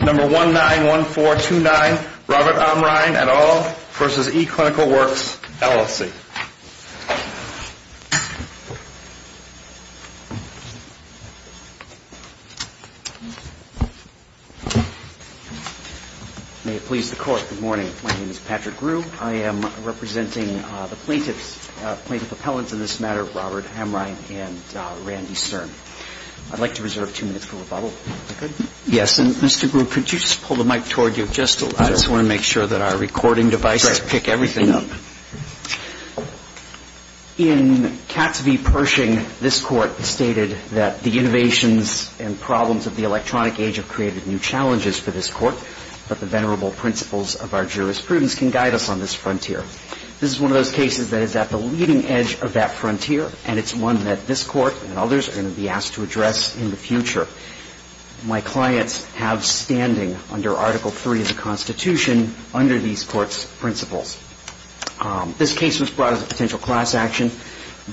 Number 191429, Robert Amrhein et al. v. eClinical Works, LLC. May it please the Court, good morning. My name is Patrick Grewe. I am representing the plaintiff appellants in this matter, Robert Amrhein and Randy Cern. I'd like to reserve two minutes for rebuttal. Yes, and Mr. Grewe, could you just pull the mic toward you? I just want to make sure that our recording devices pick everything up. In Katz v. Pershing, this Court stated that the innovations and problems of the electronic age have created new challenges for this Court, but the venerable principles of our jurisprudence can guide us on this frontier. This is one of those cases that is at the leading edge of that frontier, and it's one that this Court and others are going to be asked to address in the future. My clients have standing under Article III of the Constitution under these Court's principles. This case was brought as a potential class action,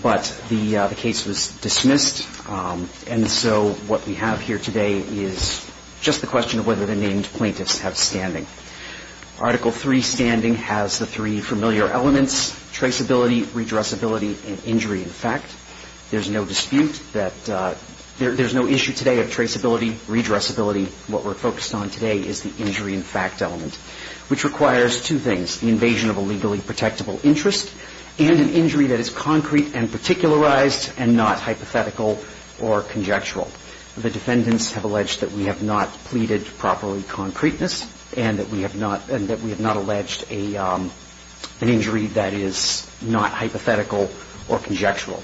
but the case was dismissed, and so what we have here today is just the question of whether the named plaintiffs have standing. Article III standing has the three familiar elements, traceability, redressability, and injury in fact. There's no dispute that there's no issue today of traceability, redressability. What we're focused on today is the injury in fact element, which requires two things, the invasion of a legally protectable interest and an injury that is concrete and particularized and not hypothetical or conjectural. The defendants have alleged that we have not pleaded properly concreteness and that we have not alleged an injury that is not hypothetical or conjectural.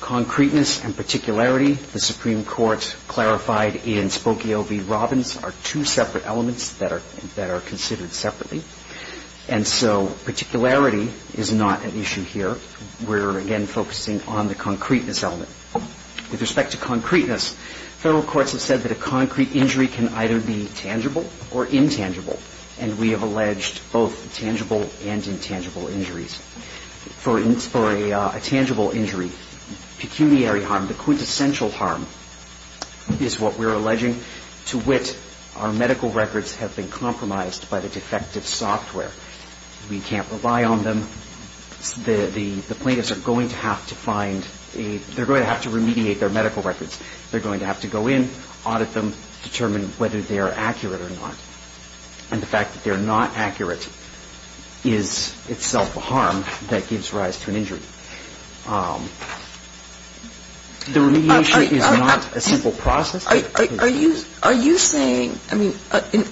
Concreteness and particularity, the Supreme Court clarified in Spokio v. Robbins, are two separate elements that are considered separately, and so particularity is not an issue here. We're again focusing on the concreteness element. With respect to concreteness, Federal courts have said that a concrete injury can either be tangible or intangible, and we have alleged both tangible and intangible injuries. For a tangible injury, pecuniary harm, the quintessential harm, is what we're alleging. To wit, our medical records have been compromised by the defective software. We can't rely on them. The plaintiffs are going to have to find a, they're going to have to remediate their medical records. They're going to have to go in, audit them, determine whether they are accurate or not. And the fact that they're not accurate is itself a harm that gives rise to an injury. The remediation is not a simple process. Are you saying, I mean,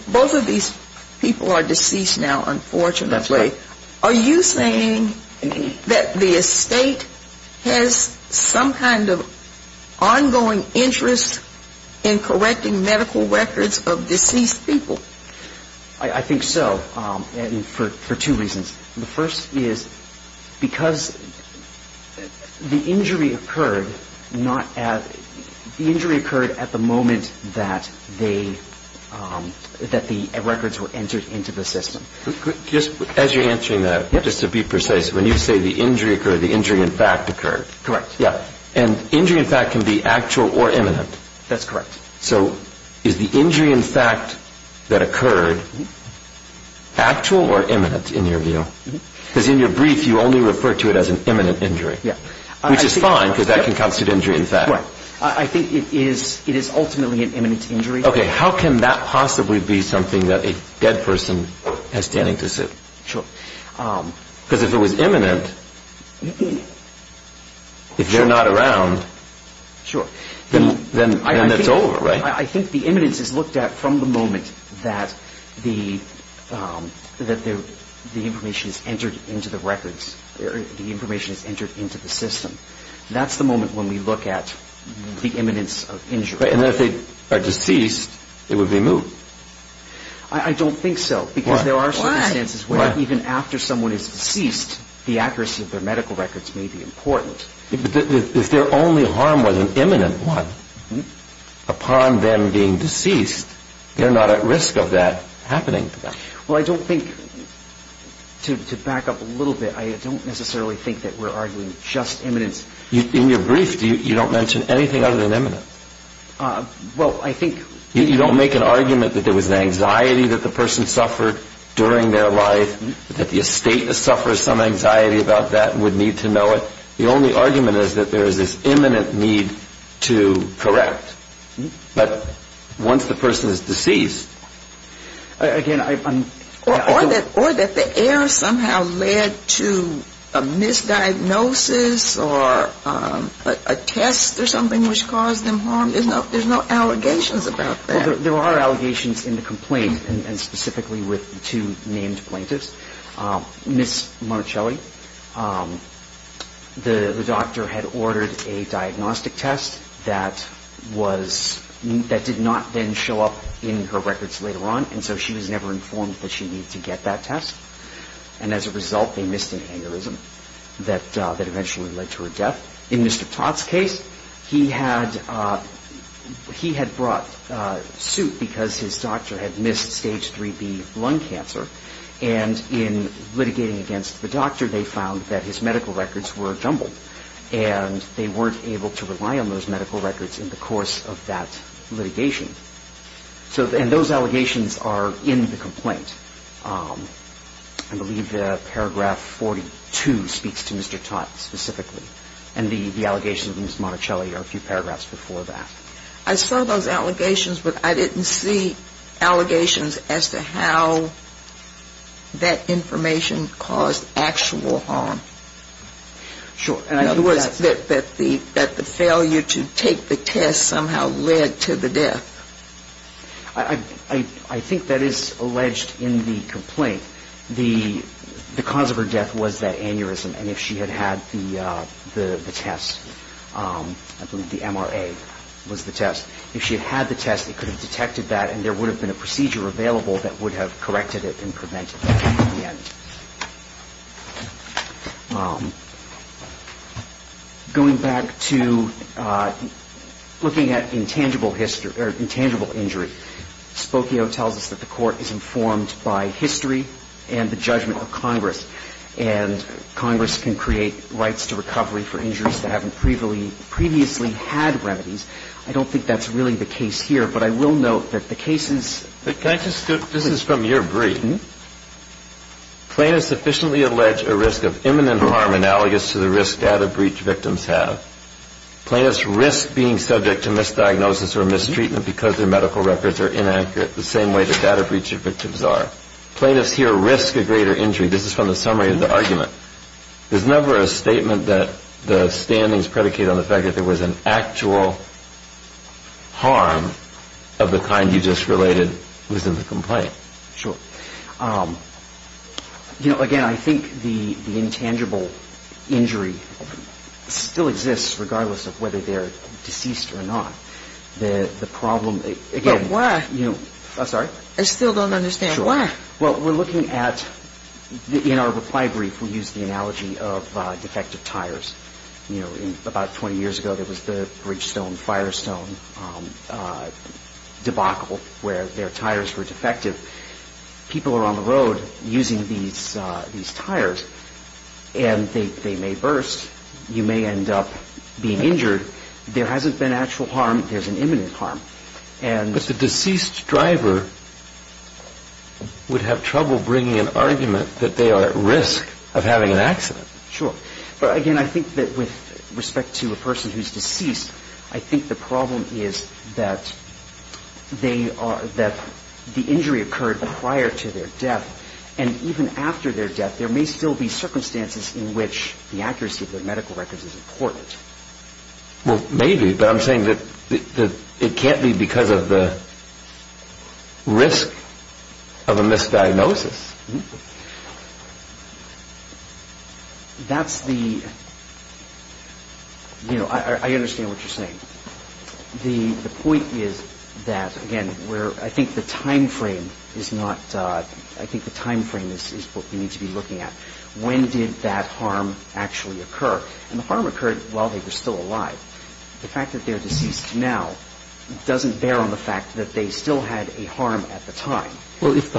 both of these people are deceased now, unfortunately. That's right. Are you saying that the estate has some kind of ongoing interest in correcting medical records of deceased people? I think so, for two reasons. The first is because the injury occurred not at, the injury occurred at the moment that they, that the records were entered into the system. Just as you're answering that, just to be precise, when you say the injury occurred, the injury in fact occurred. Correct. Yeah. And injury in fact can be actual or imminent. That's correct. So is the injury in fact that occurred actual or imminent in your view? Because in your brief, you only refer to it as an imminent injury. Yeah. Which is fine, because that can constitute injury in fact. Right. I think it is ultimately an imminent injury. Okay. How can that possibly be something that a dead person has standing to sue? Sure. Because if it was imminent, if they're not around, then it's over, right? I think the imminence is looked at from the moment that the information is entered into the records, the information is entered into the system. That's the moment when we look at the imminence of injury. Right. And then if they are deceased, it would be moved. I don't think so. Why? Because there are circumstances where even after someone is deceased, the accuracy of their medical records may be important. If their only harm was an imminent one, upon them being deceased, they're not at risk of that happening to them. Well, I don't think, to back up a little bit, I don't necessarily think that we're arguing just imminence. In your brief, you don't mention anything other than imminence. Well, I think... You don't make an argument that there was an anxiety that the person suffered during their life, that the estate has suffered some anxiety about that and would need to know it. The only argument is that there is this imminent need to correct. But once the person is deceased... Or that the error somehow led to a misdiagnosis or a test or something which caused them harm. There's no allegations about that. There are allegations in the complaint, and specifically with the two named plaintiffs. Ms. Monticelli, the doctor had ordered a diagnostic test that did not then show up in her records later on. And so she was never informed that she needed to get that test. And as a result, they missed an aneurysm that eventually led to her death. In Mr. Todd's case, he had brought soup because his doctor had missed stage 3B lung cancer. And in litigating against the doctor, they found that his medical records were jumbled. And they weren't able to rely on those medical records in the course of that litigation. And those allegations are in the complaint. I believe paragraph 42 speaks to Mr. Todd specifically. And the allegations of Ms. Monticelli are a few paragraphs before that. I saw those allegations, but I didn't see allegations as to how that information caused actual harm. Sure. It was that the failure to take the test somehow led to the death. I think that is alleged in the complaint. The cause of her death was that aneurysm. And if she had had the test, I believe the MRA was the test, if she had had the test, they could have detected that and there would have been a procedure available that would have corrected it and prevented it in the end. Going back to looking at intangible injury, Spokio tells us that the court is informed by history and the judgment of Congress. And Congress can create rights to recovery for injuries that haven't previously had remedies. I don't think that's really the case here, but I will note that the cases — Can I just — this is from your brief. Plaintiffs sufficiently allege a risk of imminent harm analogous to the risk data breach victims have. Plaintiffs risk being subject to misdiagnosis or mistreatment because their medical records are inaccurate the same way the data breach victims are. Plaintiffs here risk a greater injury. This is from the summary of the argument. There's never a statement that the standings predicate on the fact that there was an actual harm of the kind you just related within the complaint. Sure. You know, again, I think the intangible injury still exists regardless of whether they're deceased or not. The problem — But why? Sorry? I still don't understand. Sure. Why? Well, we're looking at — in our reply brief, we used the analogy of defective tires. You know, about 20 years ago, there was the Bridgestone-Firestone debacle where their tires were defective. People were on the road using these tires, and they may burst. You may end up being injured. There hasn't been actual harm. There's an imminent harm. But the deceased driver would have trouble bringing an argument that they are at risk of having an accident. Sure. But again, I think that with respect to a person who's deceased, I think the problem is that the injury occurred prior to their death, and even after their death, there may still be circumstances in which the accuracy of their medical records is important. Well, maybe, but I'm saying that it can't be because of the risk of a misdiagnosis. That's the — you know, I understand what you're saying. The point is that, again, where I think the time frame is not — I think the time frame is what we need to be looking at. When did that harm actually occur? And the harm occurred while they were still alive. The fact that they're deceased now doesn't bear on the fact that they still had a harm at the time. Well, if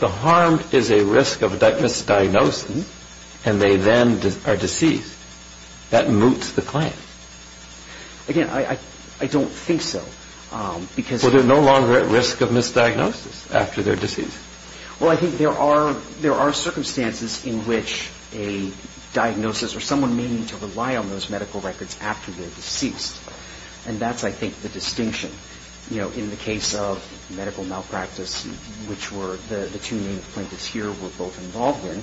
the harm is a risk of misdiagnosis, and they then are deceased, that moots the claim. Again, I don't think so, because — Well, they're no longer at risk of misdiagnosis after they're deceased. Well, I think there are circumstances in which a diagnosis or someone may need to rely on those medical records after they're deceased. And that's, I think, the distinction. You know, in the case of medical malpractice, which were the two main plaintiffs here were both involved in,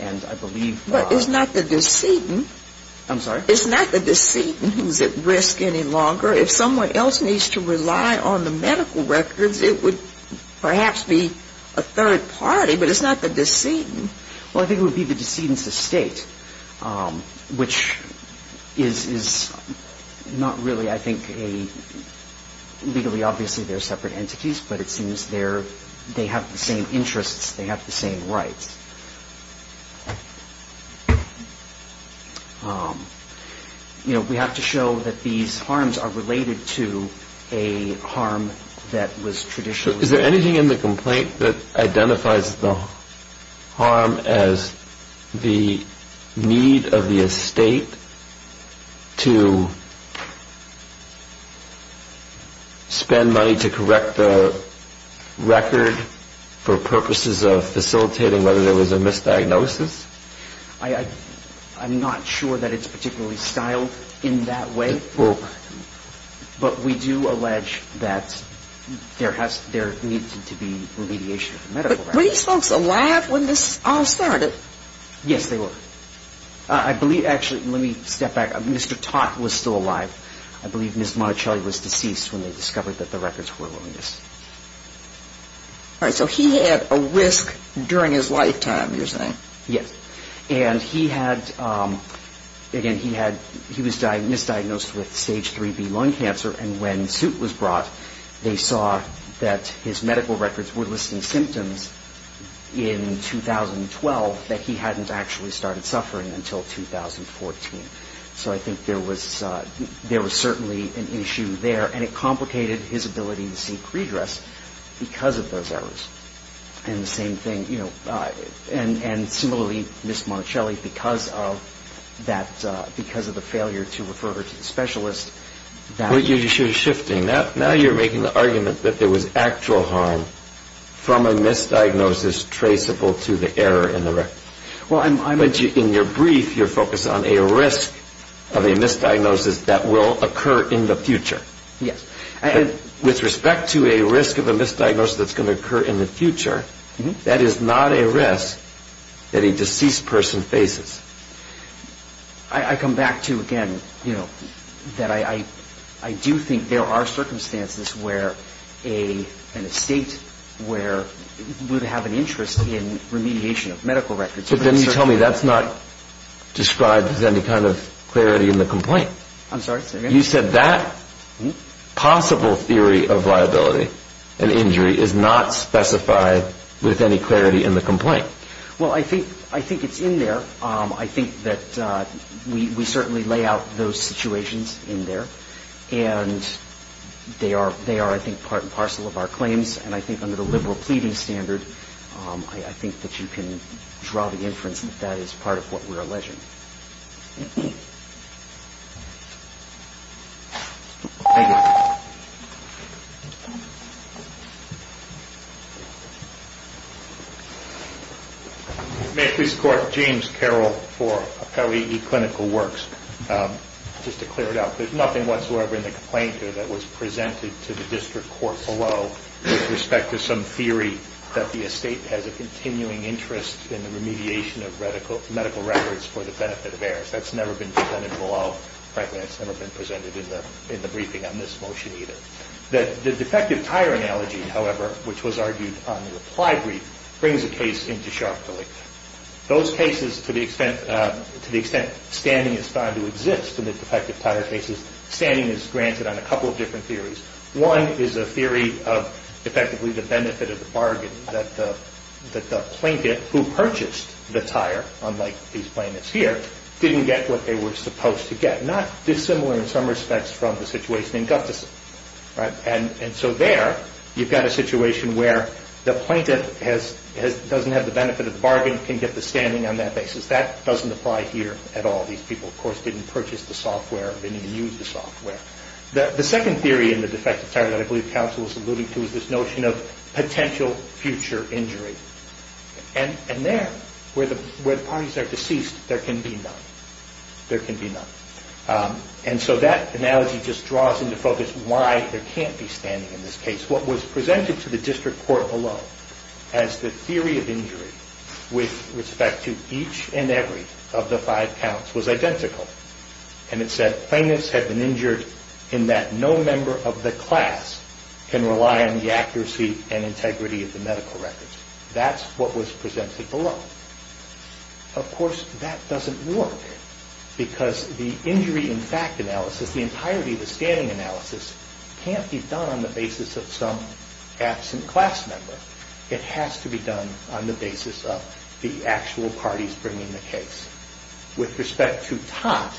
and I believe — But it's not the decedent — I'm sorry? It's not the decedent who's at risk any longer. If someone else needs to rely on the medical records, it would perhaps be a third party, but it's not the decedent. Well, I think it would be the decedent's estate, which is not really, I think, a — legally, obviously, they're separate entities, but it seems they have the same interests, they have the same rights. You know, we have to show that these harms are related to a harm that was traditionally — So is there anything in the complaint that identifies the harm as the need of the estate to spend money to correct the record for purposes of facilitating whether there was a misdiagnosis? I'm not sure that it's particularly styled in that way. But we do allege that there has — there needed to be remediation of the medical records. But were these folks alive when this all started? Yes, they were. I believe — actually, let me step back. Mr. Tot was still alive. I believe Ms. Monticelli was deceased when they discovered that the records were willingness. All right. So he had a risk during his lifetime, you're saying? Yes. And he had — again, he had — he was misdiagnosed with stage 3B lung cancer, and when suit was brought, they saw that his medical records were listing symptoms in 2012 that he hadn't actually started suffering until 2014. So I think there was certainly an issue there, and it complicated his ability to seek redress because of those errors. And the same thing, you know, and similarly, Ms. Monticelli, because of that — because of the failure to refer her to the specialist, that — Well, you're shifting. Now you're making the argument that there was actual harm from a misdiagnosis traceable to the error in the record. Well, I'm — But in your brief, you're focused on a risk of a misdiagnosis that will occur in the future. Yes. With respect to a risk of a misdiagnosis that's going to occur in the future, that is not a risk that a deceased person faces. I come back to, again, you know, that I do think there are circumstances where a — in a state where we would have an interest in remediation of medical records. But then you tell me that's not described as any kind of clarity in the complaint. I'm sorry? You said that possible theory of liability and injury is not specified with any clarity in the complaint. Well, I think it's in there. I think that we certainly lay out those situations in there. And they are, I think, part and parcel of our claims. And I think under the liberal pleading standard, I think that you can draw the inference that that is part of what we're alleging. Thank you. May I please report to James Carroll for L.E.E. Clinical Works, just to clear it up. There's nothing whatsoever in the complaint here that was presented to the district court below with respect to some theory that the estate has a continuing interest in the remediation of medical records for the benefit of heirs. That's never been presented below. Frankly, it's never been presented in the briefing on this motion either. The defective tire analogy, however, which was argued on the reply brief, brings the case into sharp deletion. Those cases, to the extent standing is found to exist in the defective tire cases, standing is granted on a couple of different theories. One is a theory of effectively the benefit of the bargain, that the plaintiff who purchased the tire, unlike these plaintiffs here, didn't get what they were supposed to get. Not dissimilar in some respects from the situation in Guthersen. And so there, you've got a situation where the plaintiff doesn't have the benefit of the bargain, can get the standing on that basis. That doesn't apply here at all. These people, of course, didn't purchase the software, didn't even use the software. The second theory in the defective tire that I believe counsel was alluding to is this notion of potential future injury. And there, where the parties are deceased, there can be none. There can be none. And so that analogy just draws into focus why there can't be standing in this case. What was presented to the district court below as the theory of injury with respect to each and every of the five counts was identical. And it said plaintiffs had been injured in that no member of the class can rely on the accuracy and integrity of the medical records. That's what was presented below. Of course, that doesn't work because the injury in fact analysis, the entirety of the standing analysis, can't be done on the basis of some absent class member. It has to be done on the basis of the actual parties bringing the case. With respect to Tott,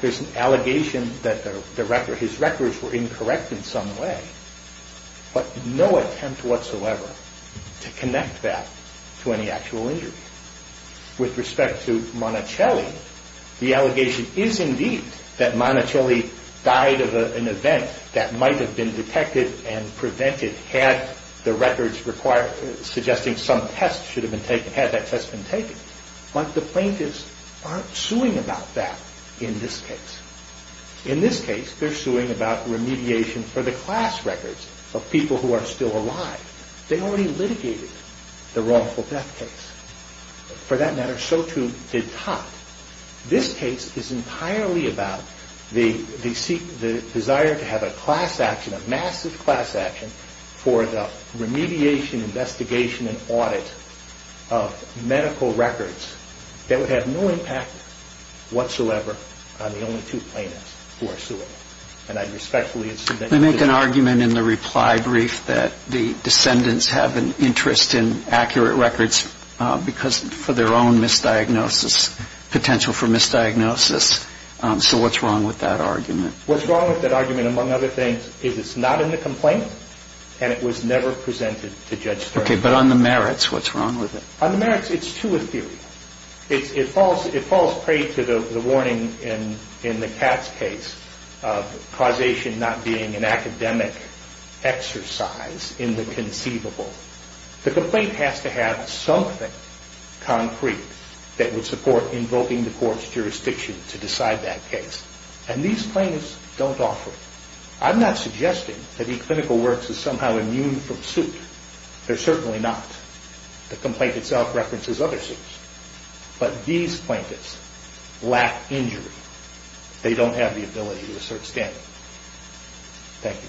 there's an allegation that his records were incorrect in some way, but no attempt whatsoever to connect that to any actual injury. With respect to Monticelli, the allegation is indeed that Monticelli died of an event that might have been detected and prevented had the records required, suggesting some test should have been taken, had that test been taken. But the plaintiffs aren't suing about that in this case. In this case, they're suing about remediation for the class records of people who are still alive. They already litigated the wrongful death case. For that matter, so too did Tott. This case is entirely about the desire to have a class action, a massive class action for the remediation, investigation, and audit of medical records that would have no impact whatsoever on the only two plaintiffs who are suing. And I respectfully submit to that. They make an argument in the reply brief that the descendants have an interest in accurate records because for their own misdiagnosis, potential for misdiagnosis. So what's wrong with that argument? What's wrong with that argument, among other things, is it's not in the complaint and it was never presented to Judge Stern. Okay, but on the merits, what's wrong with it? On the merits, it's too ethereal. It falls prey to the warning in the Katz case of causation not being an academic exercise in the conceivable. The complaint has to have something concrete that would support invoking the court's jurisdiction to decide that case. And these plaintiffs don't offer it. I'm not suggesting that eClinical Works is somehow immune from suit. They're certainly not. The complaint itself references other suits. But these plaintiffs lack injury. They don't have the ability to assert standing. Thank you.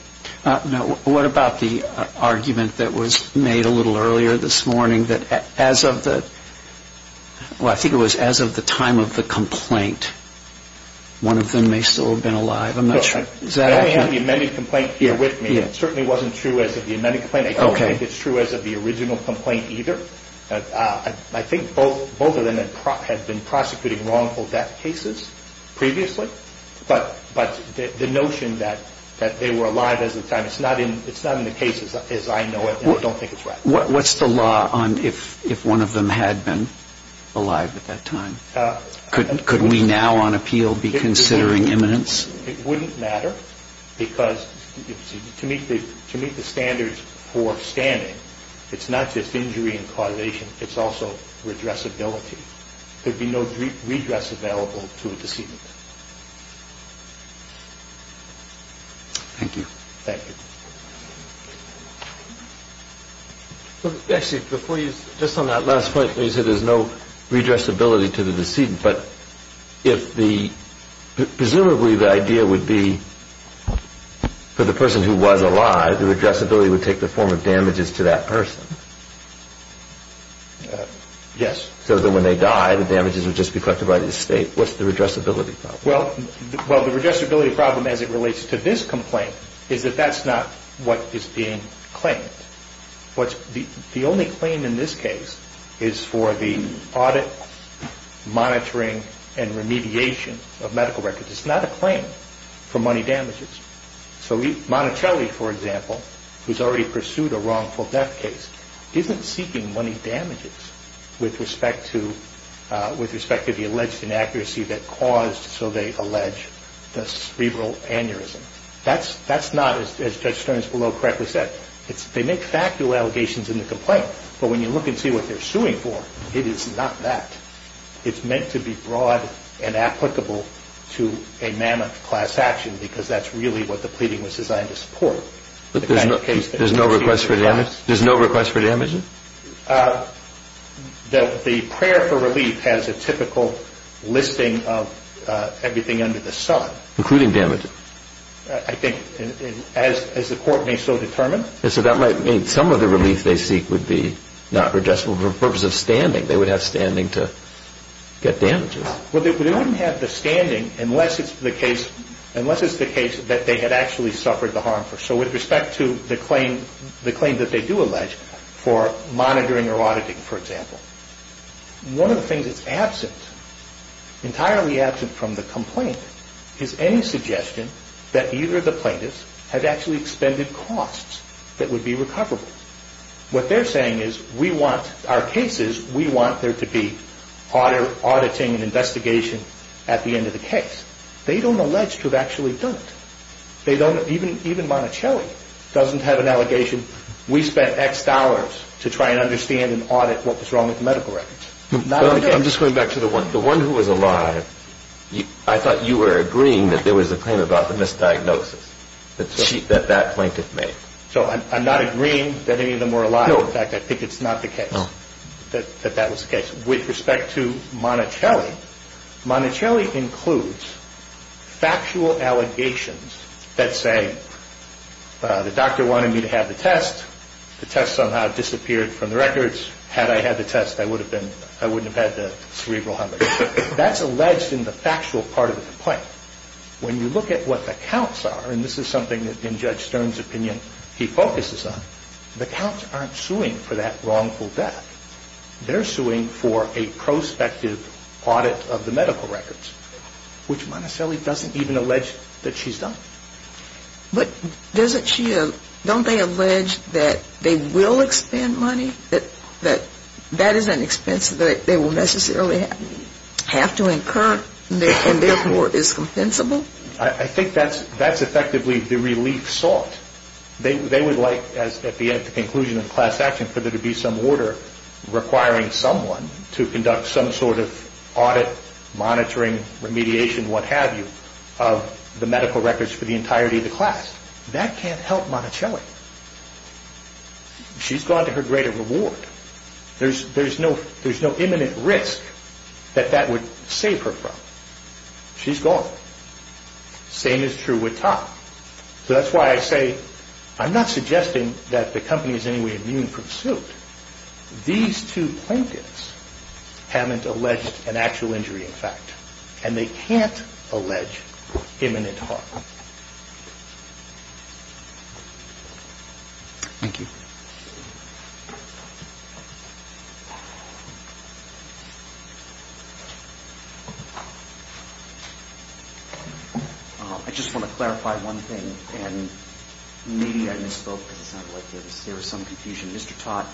Now, what about the argument that was made a little earlier this morning that as of the, well, I think it was as of the time of the complaint, one of them may still have been alive. I'm not sure. I only have the amended complaint here with me. It certainly wasn't true as of the amended complaint. I don't think it's true as of the original complaint either. I think both of them had been prosecuting wrongful death cases previously. But the notion that they were alive as of the time, it's not in the case as I know it, and I don't think it's right. What's the law on if one of them had been alive at that time? Could we now on appeal be considering imminence? It wouldn't matter because to meet the standards for standing, it's not just injury and causation. It's also redressability. There'd be no redress available to a decedent. Thank you. Thank you. Actually, before you, just on that last point, you said there's no redressability to the decedent. But if the, presumably the idea would be for the person who was alive, the redressability would take the form of damages to that person. Yes. So that when they die, the damages would just be collected by the estate. What's the redressability problem? Well, the redressability problem as it relates to this complaint is that that's not what is being claimed. The only claim in this case is for the audit, monitoring, and remediation of medical records. It's not a claim for money damages. So Monticelli, for example, who's already pursued a wrongful death case, isn't seeking money damages with respect to the alleged inaccuracy that caused, so they allege, the cerebral aneurysm. That's not, as Judge Stearns below correctly said, they make factual allegations in the complaint. But when you look and see what they're suing for, it is not that. It's meant to be broad and applicable to a mammoth class action because that's really what the pleading was designed to support. There's no request for damages? There's no request for damages? The prayer for relief has a typical listing of everything under the sun. Including damages? I think, as the court may so determine. So that might mean some of the relief they seek would be not redressable for the purpose of standing. They would have standing to get damages. Well, they wouldn't have the standing unless it's the case that they had actually suffered the harm. So with respect to the claim that they do allege for monitoring or auditing, for example, one of the things that's absent, entirely absent from the complaint, is any suggestion that either of the plaintiffs had actually expended costs that would be recoverable. What they're saying is, we want our cases, we want there to be auditing and investigation at the end of the case. They don't allege to have actually done it. Even Monticelli doesn't have an allegation, we spent X dollars to try and understand and audit what was wrong with the medical records. I'm just going back to the one who was alive. I thought you were agreeing that there was a claim about the misdiagnosis that that plaintiff made. So I'm not agreeing that any of them were alive. In fact, I think it's not the case that that was the case. With respect to Monticelli, Monticelli includes factual allegations that say, the doctor wanted me to have the test, the test somehow disappeared from the records, had I had the test I wouldn't have had the cerebral hemorrhage. That's alleged in the factual part of the complaint. When you look at what the counts are, and this is something that in Judge Stern's opinion he focuses on, the counts aren't suing for that wrongful death. They're suing for a prospective audit of the medical records, which Monticelli doesn't even allege that she's done. But doesn't she, don't they allege that they will expend money, that that is an expense that they will necessarily have to incur and therefore is compensable? I think that's effectively the relief sought. They would like, at the end of the conclusion of class action, for there to be some order requiring someone to conduct some sort of audit, monitoring, remediation, what have you, of the medical records for the entirety of the class. That can't help Monticelli. She's gone to her greater reward. There's no imminent risk that that would save her from. She's gone. Same is true with Topp. So that's why I say, I'm not suggesting that the company is in any way immune from suit. These two plaintiffs haven't alleged an actual injury in fact, and they can't allege imminent harm. Thank you. I just want to clarify one thing, and maybe I misspoke because it sounded like there was some confusion. Mr. Topp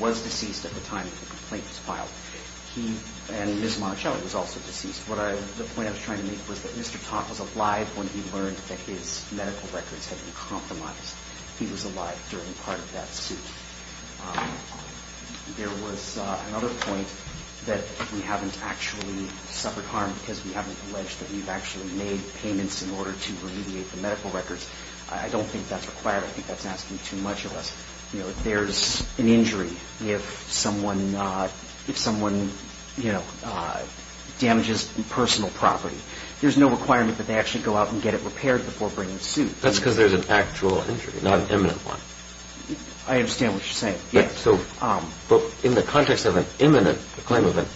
was deceased at the time the complaint was filed. And Ms. Monticelli was also deceased. The point I was trying to make was that Mr. Topp was alive when he learned that his medical records had been compromised. He was alive during part of that suit. There was another point that we haven't actually suffered harm because we haven't alleged that we've actually made payments in order to remediate the medical records. I don't think that's required. I think that's asking too much of us. There's an injury if someone damages personal property. There's no requirement that they actually go out and get it repaired before bringing the suit. That's because there's an actual injury, not an imminent one. I understand what you're saying. In the context of an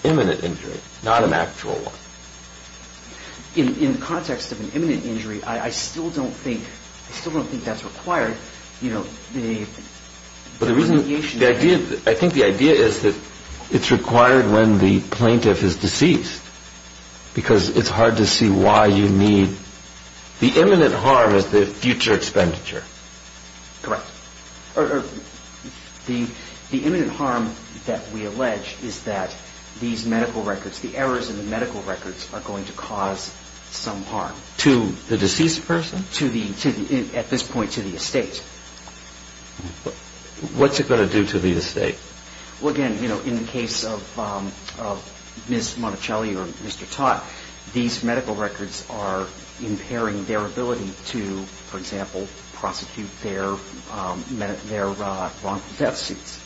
imminent injury, not an actual one. In the context of an imminent injury, I still don't think that's required. I think the idea is that it's required when the plaintiff is deceased because it's hard to see why you need the imminent harm as the future expenditure. Correct. The imminent harm that we allege is that these medical records, the errors in the medical records are going to cause some harm. To the deceased person? At this point, to the estate. What's it going to do to the estate? Again, in the case of Ms. Monticelli or Mr. Topp, these medical records are impairing their ability to, for example, prosecute their wrongful death suits.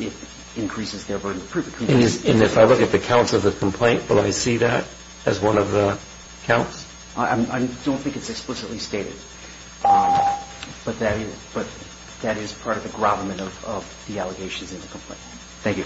It increases their burden of proof. If I look at the counts of the complaint, will I see that as one of the counts? I don't think it's explicitly stated, but that is part of the grommet of the allegations in the complaint. Thank you.